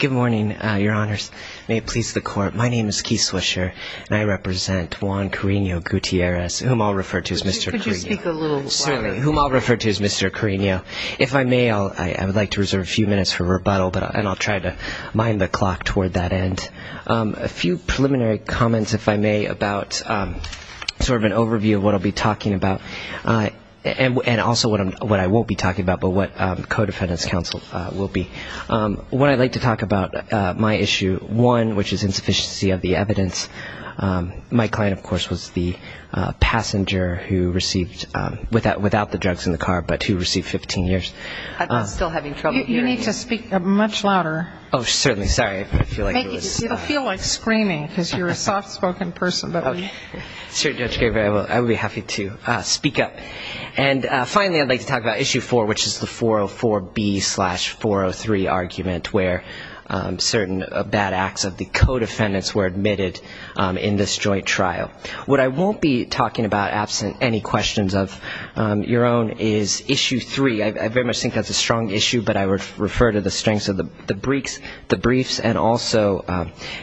Good morning, your honors. May it please the court, my name is Keith Swisher, and I represent Juan Carreno-Gutierrez, whom I'll refer to as Mr. Carreno. Could you speak a little louder? Certainly. Whom I'll refer to as Mr. Carreno. If I may, I would like to reserve a few minutes for rebuttal, and I'll try to mind the clock toward that end. A few preliminary comments, if I may, about sort of an overview of what I'll be talking about, and also what I won't be talking about, but what co-defendant's counsel will be. One, I'd like to talk about my issue one, which is insufficiency of the evidence. My client, of course, was the passenger who received, without the drugs in the car, but who received 15 years. I'm still having trouble hearing you. You need to speak much louder. Oh, certainly. Sorry, I feel like it was. It'll feel like screaming, because you're a soft-spoken person. I would be happy to speak up. And finally, I'd like to talk about issue four, which is the 404B slash 403 argument, where certain bad acts of the co-defendants were admitted in this joint trial. What I won't be talking about, absent any questions of your own, is issue three. I very much think that's a strong issue, but I would refer to the strengths of the briefs, and also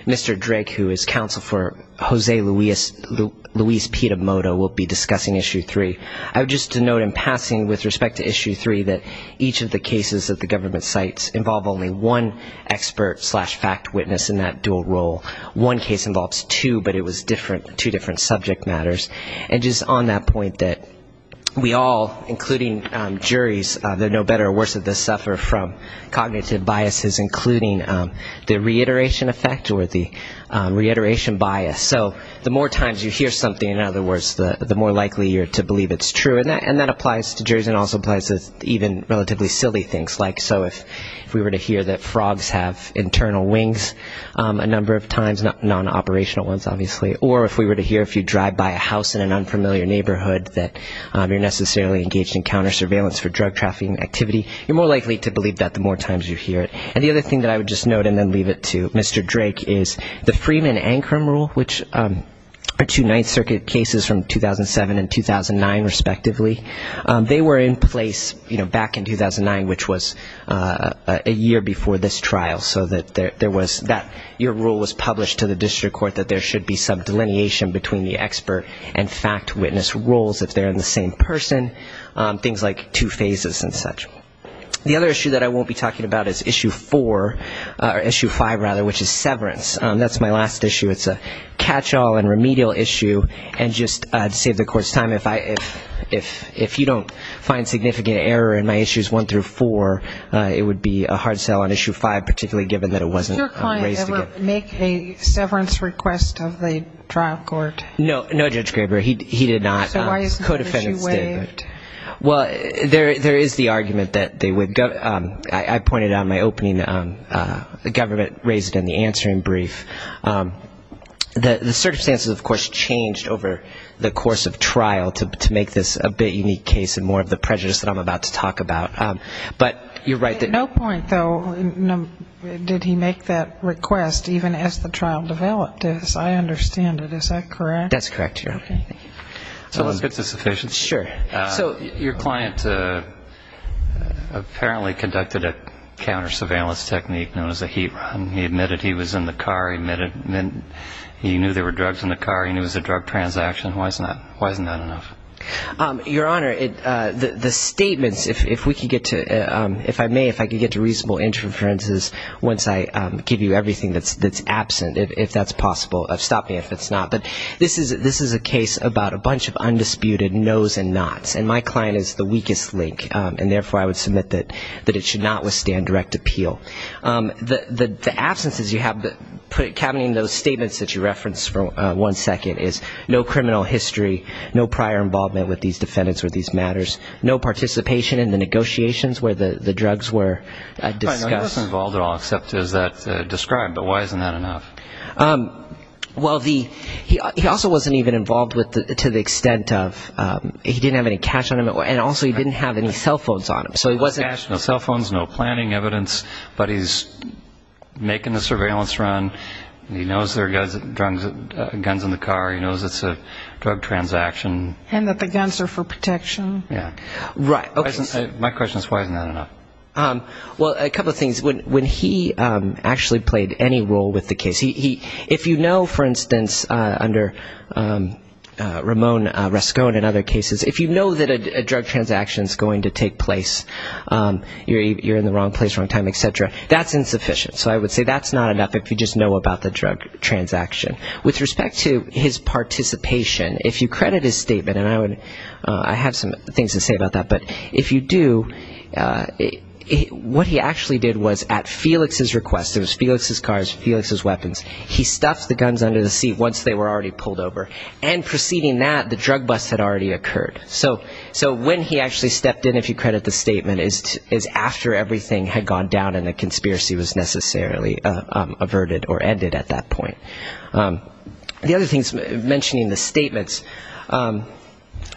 Mr. Drake, who is counsel for Jose Luis Pitomoto, will be discussing issue three. I would just note in passing, with respect to issue three, that each of the cases that the government cites involve only one expert slash fact witness in that dual role. One case involves two, but it was two different subject matters. And just on that point, that we all, including juries, no better or worse at this, suffer from cognitive biases, including the reiteration effect or the reiteration bias. So the more times you hear something, in other words, the more likely you're to believe it's true. And that applies to juries and also applies to even relatively silly things, like so if we were to hear that frogs have internal wings a number of times, non-operational ones, obviously, or if we were to hear if you drive by a house in an unfamiliar neighborhood that you're necessarily engaged in counter-surveillance for drug trafficking activity, you're more likely to believe that the more times you hear it. And the other thing that I would just note and then leave it to Mr. Drake is the Freeman-Ancrum rule, which are two Ninth Circuit cases from 2007 and 2009, respectively. They were in place, you know, back in 2009, which was a year before this trial, so that there was that your rule was published to the district court that there should be some delineation between the expert and fact witness roles if they're in the same person, things like two phases and such. The other issue that I won't be talking about is issue four, or issue five, rather, which is severance. That's my last issue. It's a catch-all and remedial issue, and just to save the court's time, if you don't find significant error in my issues one through four, it would be a hard sell on issue five, particularly given that it wasn't raised again. Did your client ever make a severance request of the trial court? No. No, Judge Graber. He did not. So why isn't the issue waived? Well, there is the argument that they would. I pointed out in my opening, the government raised it in the answering brief. The circumstances, of course, changed over the course of trial to make this a bit unique case and more of the prejudice that I'm about to talk about, but you're right. At no point, though, did he make that request, even as the trial developed. I understand it. Is that correct? That's correct, Your Honor. Okay, thank you. So let's get to sufficiency. Sure. So your client apparently conducted a counter-surveillance technique known as a heat run. He admitted he was in the car. He knew there were drugs in the car. He knew it was a drug transaction. Why isn't that enough? Your Honor, the statements, if I may, if I can get to reasonable inferences once I give you everything that's absent, if that's possible. Stop me if it's not. But this is a case about a bunch of undisputed no's and not's, and my client is the weakest link, and therefore I would submit that it should not withstand direct appeal. The absences you have, cabining those statements that you referenced for one second, is no criminal history, no prior involvement with these defendants or these matters, no participation in the negotiations where the drugs were discussed. He wasn't involved at all, except as that's described. But why isn't that enough? Well, he also wasn't even involved to the extent of he didn't have any cash on him, and also he didn't have any cell phones on him. No cash, no cell phones, no planning evidence. But he's making the surveillance run. He knows there are guns in the car. He knows it's a drug transaction. And that the guns are for protection. Yeah. My question is why isn't that enough? Well, a couple of things. When he actually played any role with the case, if you know, for instance, under Ramon Rascone and other cases, if you know that a drug transaction is going to take place, you're in the wrong place, wrong time, et cetera, that's insufficient. So I would say that's not enough if you just know about the drug transaction. With respect to his participation, if you credit his statement, and I have some things to say about that, but if you do, what he actually did was at Felix's request, it was Felix's cars, Felix's weapons, he stuffed the guns under the seat once they were already pulled over. And preceding that, the drug bust had already occurred. So when he actually stepped in, if you credit the statement, is after everything had gone down and the conspiracy was necessarily averted or ended at that point. The other thing is mentioning the statements.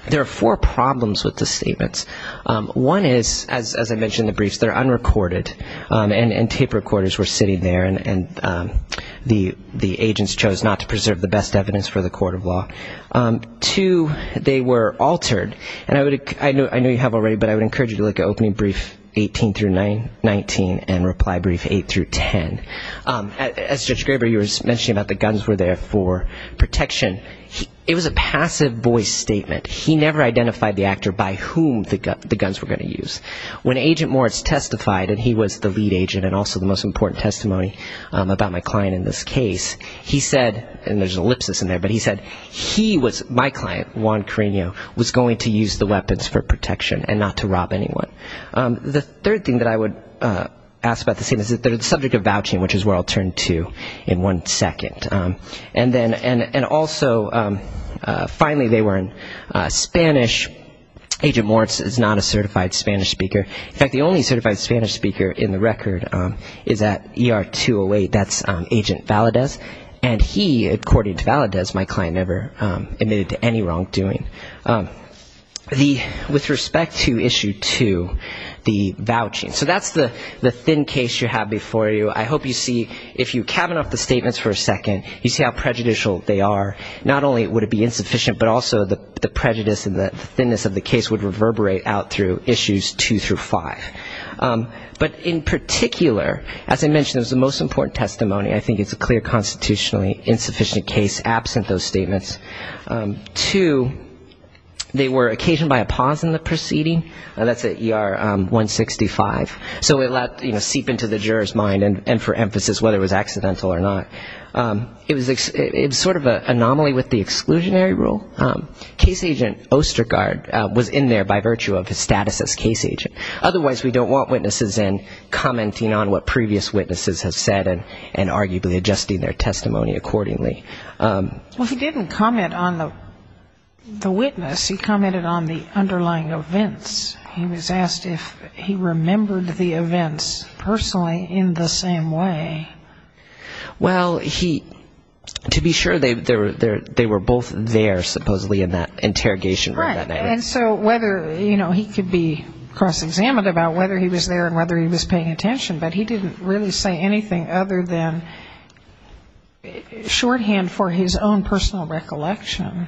There are four problems with the statements. One is, as I mentioned in the briefs, they're unrecorded, and tape recorders were sitting there, and the agents chose not to preserve the best evidence for the court of law. Two, they were altered, and I know you have already, but I would encourage you to look at opening brief 18 through 19 and reply brief 8 through 10. As Judge Graber, you were mentioning about the guns were there for protection. It was a passive voice statement. He never identified the actor by whom the guns were going to use. When Agent Moritz testified, and he was the lead agent and also the most important testimony about my client in this case, he said, and there's an ellipsis in there, but he said he was, my client, Juan Carreno, was going to use the weapons for protection and not to rob anyone. The third thing that I would ask about the statements, they're the subject of vouching, which is where I'll turn to in one second. And also, finally, they were in Spanish. Agent Moritz is not a certified Spanish speaker. In fact, the only certified Spanish speaker in the record is at ER 208. That's Agent Valadez, and he, according to Valadez, my client never admitted to any wrongdoing. With respect to Issue 2, the vouching, so that's the thin case you have before you. I hope you see, if you cabin off the statements for a second, you see how prejudicial they are. Not only would it be insufficient, but also the prejudice and the thinness of the case would reverberate out through Issues 2 through 5. But in particular, as I mentioned, it was the most important testimony. I think it's a clear constitutionally insufficient case absent those statements. Two, they were occasioned by a pause in the proceeding. That's at ER 165. So it let, you know, seep into the juror's mind, and for emphasis, whether it was accidental or not. It was sort of an anomaly with the exclusionary rule. Case agent Ostergaard was in there by virtue of his status as case agent. Otherwise, we don't want witnesses in commenting on what previous witnesses have said and arguably adjusting their testimony accordingly. Well, he didn't comment on the witness. He commented on the underlying events. He was asked if he remembered the events personally in the same way. Well, he, to be sure, they were both there, supposedly, in that interrogation room. Right. And so whether, you know, he could be cross-examined about whether he was there and whether he was paying attention. But he didn't really say anything other than shorthand for his own personal recollection.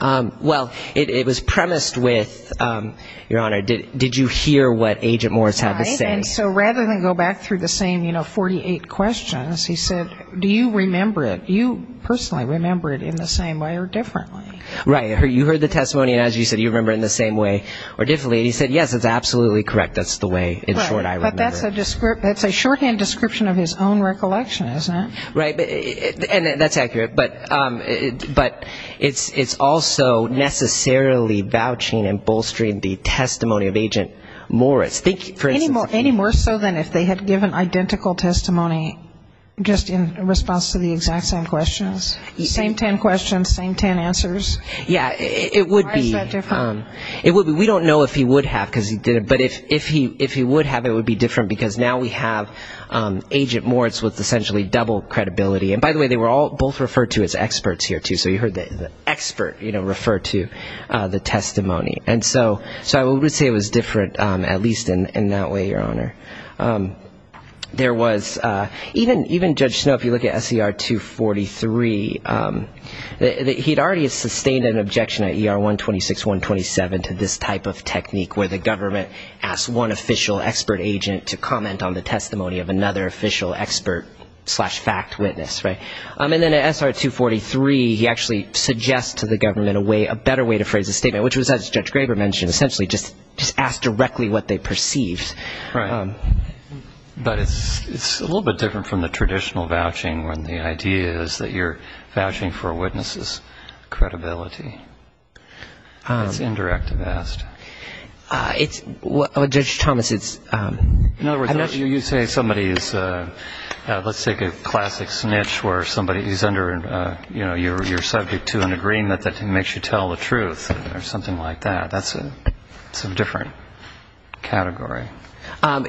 Well, it was premised with, Your Honor, did you hear what Agent Morris had to say? Right. And so rather than go back through the same, you know, 48 questions, he said, do you remember it, do you personally remember it in the same way or differently? Right. You heard the testimony, and as you said, do you remember it in the same way or differently? And he said, yes, it's absolutely correct. That's the way, in short, I remember it. But that's a shorthand description of his own recollection, isn't it? Right. And that's accurate, but it's also necessarily vouching and bolstering the testimony of Agent Morris. Any more so than if they had given identical testimony just in response to the exact same questions? Same ten questions, same ten answers? Yeah, it would be. Why is that different? We don't know if he would have, but if he would have, it would be different because now we have Agent Morris with essentially double credibility. And, by the way, they were both referred to as experts here, too, so you heard the expert, you know, refer to the testimony. And so I would say it was different at least in that way, Your Honor. There was even Judge Snow, if you look at SCR 243, he had already sustained an objection at ER 126, 127 to this type of technique where the government asks one official expert agent to comment on the testimony of another official expert slash fact witness, right? And then at SR 243 he actually suggests to the government a better way to phrase the statement, which was, as Judge Graber mentioned, essentially just ask directly what they perceived. Right. But it's a little bit different from the traditional vouching when the idea is that you're vouching for a witness's credibility. That's indirect, I've asked. Judge Thomas, it's ‑‑ In other words, you say somebody is, let's take a classic snitch where somebody is under your subject to an agreement that makes you tell the truth or something like that. That's a different category.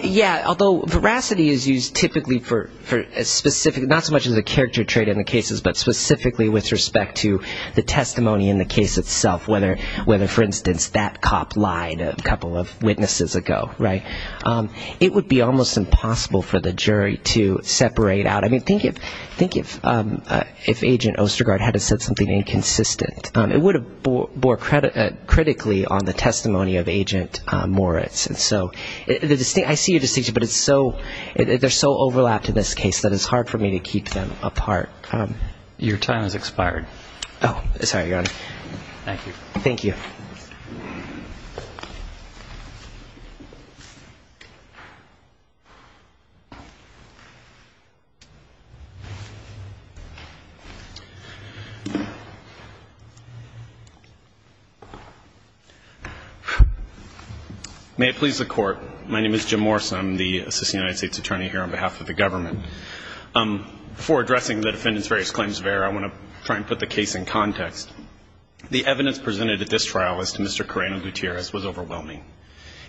Yeah, although veracity is used typically for a specific, not so much as a character trait in the cases, but specifically with respect to the testimony in the case itself, whether, for instance, that cop lied a couple of witnesses ago, right? It would be almost impossible for the jury to separate out. I mean, think if Agent Ostergaard had said something inconsistent. It would have bore critically on the testimony of Agent Moritz. And so I see your distinction, but they're so overlapped in this case that it's hard for me to keep them apart. Your time has expired. Oh, sorry, Your Honor. Thank you. Thank you. May it please the Court, my name is Jim Morse, I'm the Assistant United States Attorney here on behalf of the government. Before addressing the defendant's various claims of error, I want to try and put the case in context. The evidence presented at this trial as to Mr. Carreno-Gutierrez was overwhelming.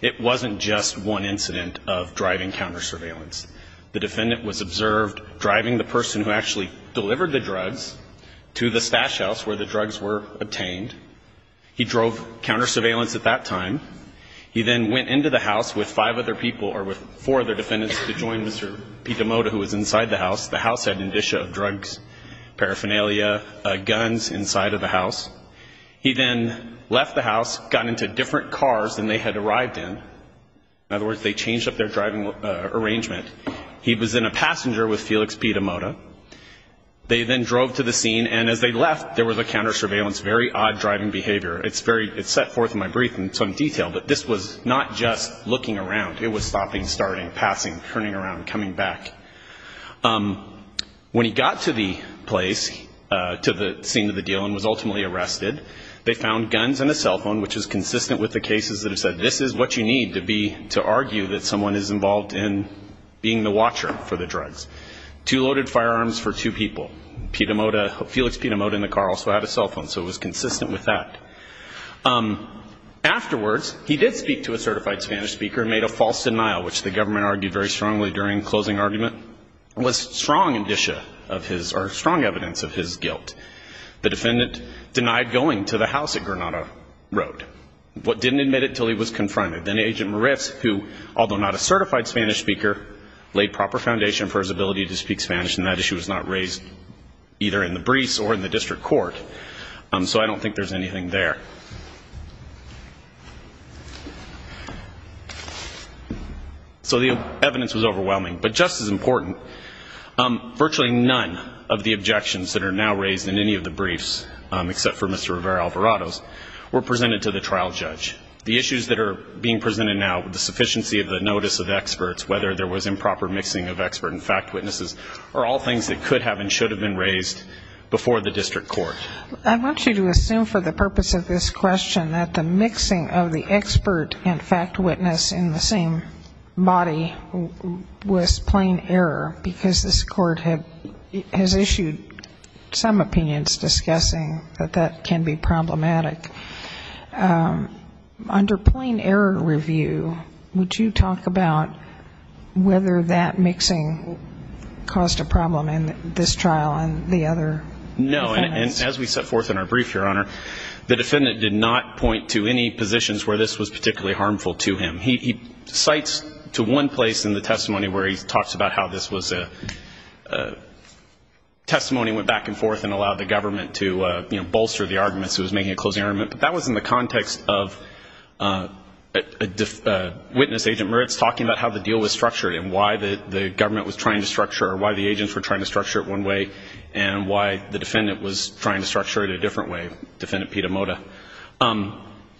It wasn't just one incident of driving counter surveillance. The defendant was observed driving the person who actually delivered the drugs to the stash house where the drugs were obtained. He drove counter surveillance at that time. He then went into the house with five other people or with four other defendants to join Mr. Pitomoda who was inside the house. The house had an indicia of drugs, paraphernalia, guns inside of the house. He then left the house, got into different cars than they had arrived in. In other words, they changed up their driving arrangement. He was in a passenger with Felix Pitomoda. They then drove to the scene, and as they left, there was a counter surveillance, very odd driving behavior. It's set forth in my brief in some detail, but this was not just looking around. It was stopping, starting, passing, turning around, coming back. When he got to the place, to the scene of the deal and was ultimately arrested, they found guns and a cell phone, which is consistent with the cases that have said, this is what you need to argue that someone is involved in being the watcher for the drugs. Two loaded firearms for two people. Felix Pitomoda in the car also had a cell phone, so it was consistent with that. Afterwards, he did speak to a certified Spanish speaker and made a false denial, which the government argued very strongly during closing argument. It was strong indicia of his, or strong evidence of his guilt. The defendant denied going to the house at Granada Road, but didn't admit it until he was confronted. Then Agent Moritz, who, although not a certified Spanish speaker, laid proper foundation for his ability to speak Spanish, and that issue was not raised either in the briefs or in the district court. So I don't think there's anything there. So the evidence was overwhelming, but just as important, virtually none of the objections that are now raised in any of the briefs, except for Mr. Rivera Alvarado's, were presented to the trial judge. The issues that are being presented now, the sufficiency of the notice of experts, whether there was improper mixing of expert and fact witnesses, are all things that could have and should have been raised before the district court. I want you to assume for the purpose of this question that the mixing of the expert and fact witness in the same body was plain error, because this court has issued some opinions discussing that that can be problematic. Under plain error review, would you talk about whether that mixing caused a problem in this trial and the other? No. And as we set forth in our brief, Your Honor, the defendant did not point to any positions where this was particularly harmful to him. He cites to one place in the testimony where he talks about how this was a testimony, went back and forth and allowed the government to, you know, bolster the argument, so he was making a closing argument. But that was in the context of witness agent Meritz talking about how the deal was structured and why the government was trying to structure or why the agents were trying to structure it one way and why the defendant was trying to structure it a different way, Defendant Piedamoda.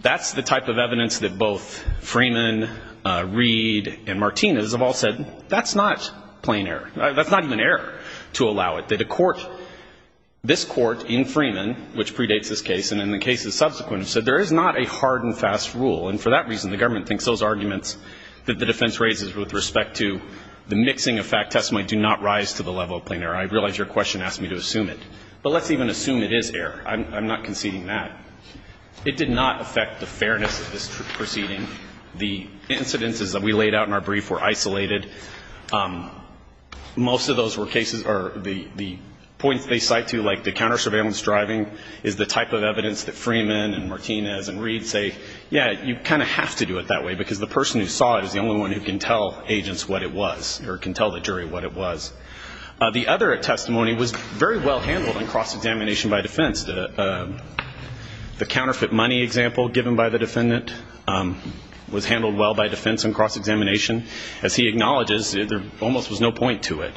That's the type of evidence that both Freeman, Reed, and Martinez have all said, that's not plain error. That's not even error to allow it. The court, this court in Freeman, which predates this case and in the cases subsequent, said there is not a hard and fast rule. And for that reason, the government thinks those arguments that the defense raises with respect to the mixing of fact testimony do not rise to the level of plain error. I realize your question asked me to assume it. But let's even assume it is error. I'm not conceding that. It did not affect the fairness of this proceeding. The incidences that we laid out in our brief were isolated. Most of those were cases, or the points they cite to, like the counter-surveillance driving is the type of evidence that Freeman and Martinez and Reed say, yeah, you kind of have to do it that way, because the person who saw it is the only one who can tell agents what it was or can tell the jury what it was. The other testimony was very well handled in cross-examination by defense. The counterfeit money example given by the defendant was handled well by defense in cross-examination. As he acknowledges, there almost was no point to it.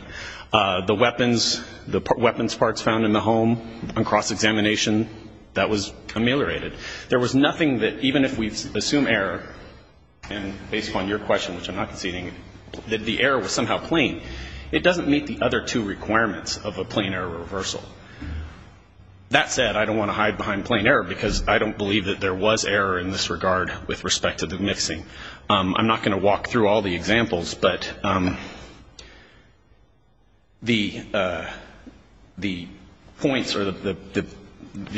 The weapons parts found in the home in cross-examination, that was ameliorated. There was nothing that, even if we assume error, and based upon your question, which I'm not conceding, that the error was somehow plain, it doesn't meet the other two requirements of a plain error reversal. That said, I don't want to hide behind plain error, because I don't believe that there was error in this regard with respect to the mixing. I'm not going to walk through all the examples, but the points or the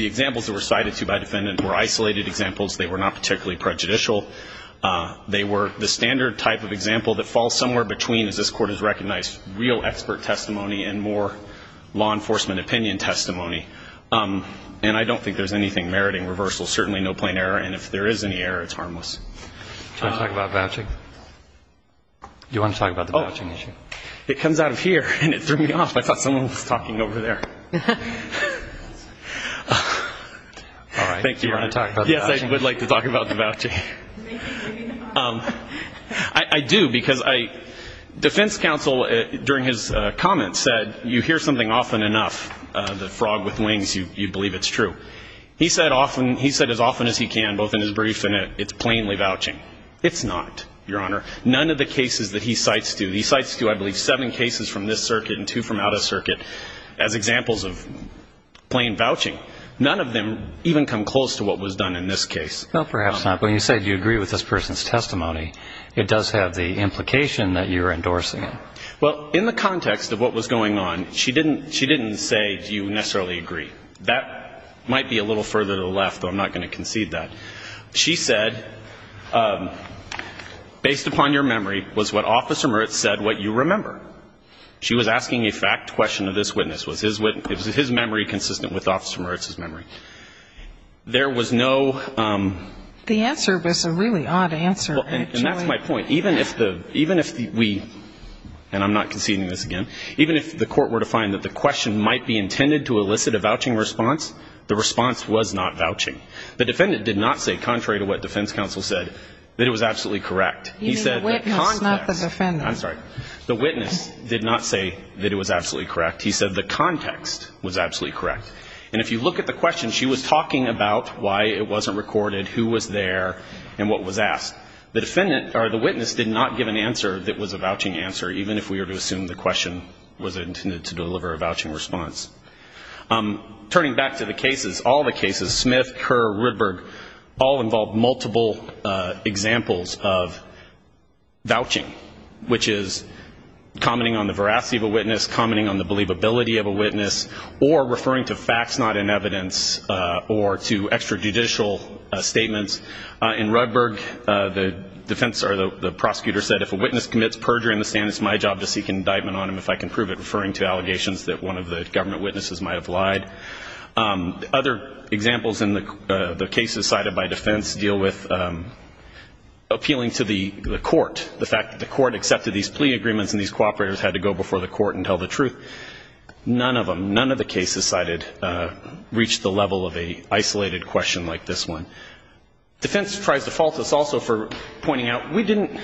examples that were cited to by defendants were isolated examples. They were not particularly prejudicial. They were the standard type of example that falls somewhere between, as this Court has recognized, real expert testimony and more law enforcement opinion testimony. And I don't think there's anything meriting reversal. And if there is any error, it's harmless. Do you want to talk about vouching? Do you want to talk about the vouching issue? It comes out of here, and it threw me off. I thought someone was talking over there. All right. Do you want to talk about the vouching? Yes, I would like to talk about the vouching. I do, because defense counsel, during his comments, said, you hear something often enough, the frog with wings, you believe it's true. He said as often as he can, both in his brief and in it, it's plainly vouching. It's not, Your Honor. None of the cases that he cites do. He cites, I believe, seven cases from this circuit and two from out of circuit as examples of plain vouching. None of them even come close to what was done in this case. No, perhaps not. But when you say you agree with this person's testimony, it does have the implication that you're endorsing it. Well, in the context of what was going on, she didn't say, do you necessarily agree. That might be a little further to the left, but I'm not going to concede that. She said, based upon your memory, was what Officer Moritz said what you remember. She was asking a fact question of this witness. Was his memory consistent with Officer Moritz's memory? There was no ---- The answer was a really odd answer. And that's my point. Even if we, and I'm not conceding this again, even if the court were to find that the question might be intended to elicit a vouching response, the response was not vouching. The defendant did not say, contrary to what defense counsel said, that it was absolutely correct. He said the context ---- You mean the witness, not the defendant. I'm sorry. The witness did not say that it was absolutely correct. He said the context was absolutely correct. And if you look at the question, she was talking about why it wasn't recorded, who was there, and what was asked. The witness did not give an answer that was a vouching answer, even if we were to assume the question was intended to deliver a vouching response. Turning back to the cases, all the cases, Smith, Kerr, Rudberg, all involved multiple examples of vouching, which is commenting on the veracity of a witness, commenting on the believability of a witness, or referring to facts not in evidence or to extrajudicial statements. In Rudberg, the defense or the prosecutor said if a witness commits perjury in the stand, it's my job to seek indictment on him if I can prove it, referring to allegations that one of the government witnesses might have lied. Other examples in the cases cited by defense deal with appealing to the court, the fact that the court accepted these plea agreements and these cooperators had to go before the court and tell the truth. None of them, none of the cases cited reached the level of an isolated question like this one. Defense tries to fault us also for pointing out we didn't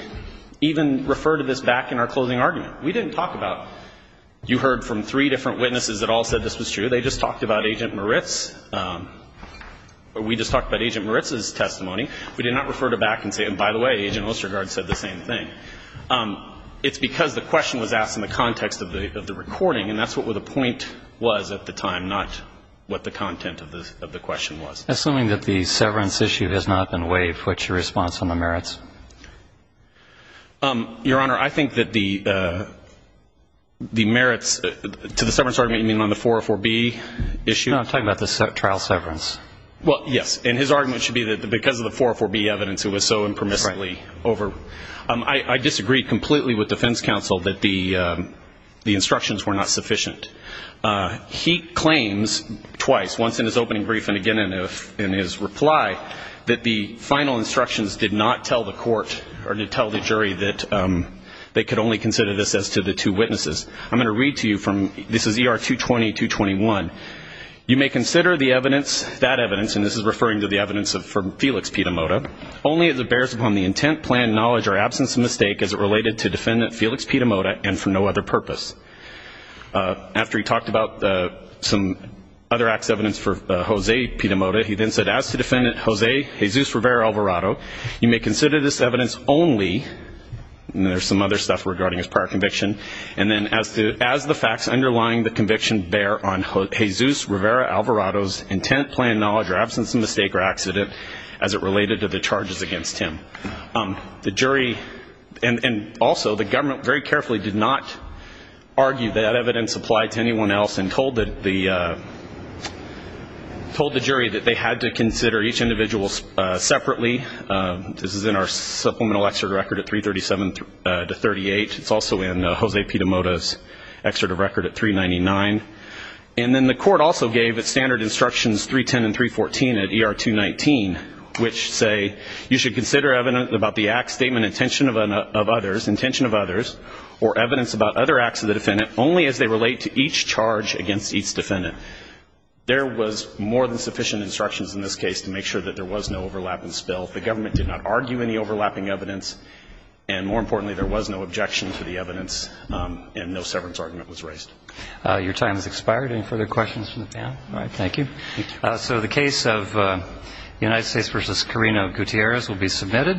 even refer to this back in our closing argument. We didn't talk about you heard from three different witnesses that all said this was true. They just talked about Agent Moritz, or we just talked about Agent Moritz's testimony. We did not refer to back and say, and by the way, Agent Ostergaard said the same thing. It's because the question was asked in the context of the recording, and that's what the point was at the time, not what the content of the question was. Assuming that the severance issue has not been waived, what's your response on the merits? Your Honor, I think that the merits to the severance argument you mean on the 404B issue? No, I'm talking about the trial severance. Well, yes, and his argument should be that because of the 404B evidence it was so impermissibly over. I disagree completely with defense counsel that the instructions were not sufficient. He claims twice, once in his opening brief and again in his reply, that the final instructions did not tell the court or did tell the jury that they could only consider this as to the two witnesses. I'm going to read to you from, this is ER 220-221. You may consider the evidence, that evidence, and this is referring to the evidence from Felix Pitomoda, only as it bears upon the intent, plan, knowledge, or absence of mistake as it related to defendant Felix Pitomoda and for no other purpose. After he talked about some other acts of evidence for Jose Pitomoda, he then said, as to defendant Jose Jesus Rivera Alvarado, you may consider this evidence only, and there's some other stuff regarding his prior conviction, and then as the facts underlying the conviction bear on Jesus Rivera Alvarado's intent, plan, knowledge, or absence of mistake or accident as it related to the charges against him. The jury and also the government very carefully did not argue that evidence applied to anyone else and told the jury that they had to consider each individual separately. This is in our supplemental excerpt record at 337-38. It's also in Jose Pitomoda's excerpt of record at 399. And then the court also gave its standard instructions 310 and 314 at ER 219, which say you should consider evidence about the act, statement, intention of others, or evidence about other acts of the defendant only as they relate to each charge against each defendant. There was more than sufficient instructions in this case to make sure that there was no overlap and spill. The government did not argue any overlapping evidence, and more importantly, there was no objection to the evidence and no severance argument was raised. Your time has expired. Any further questions from the panel? All right. Thank you. So the case of United States v. Carino Gutierrez will be submitted.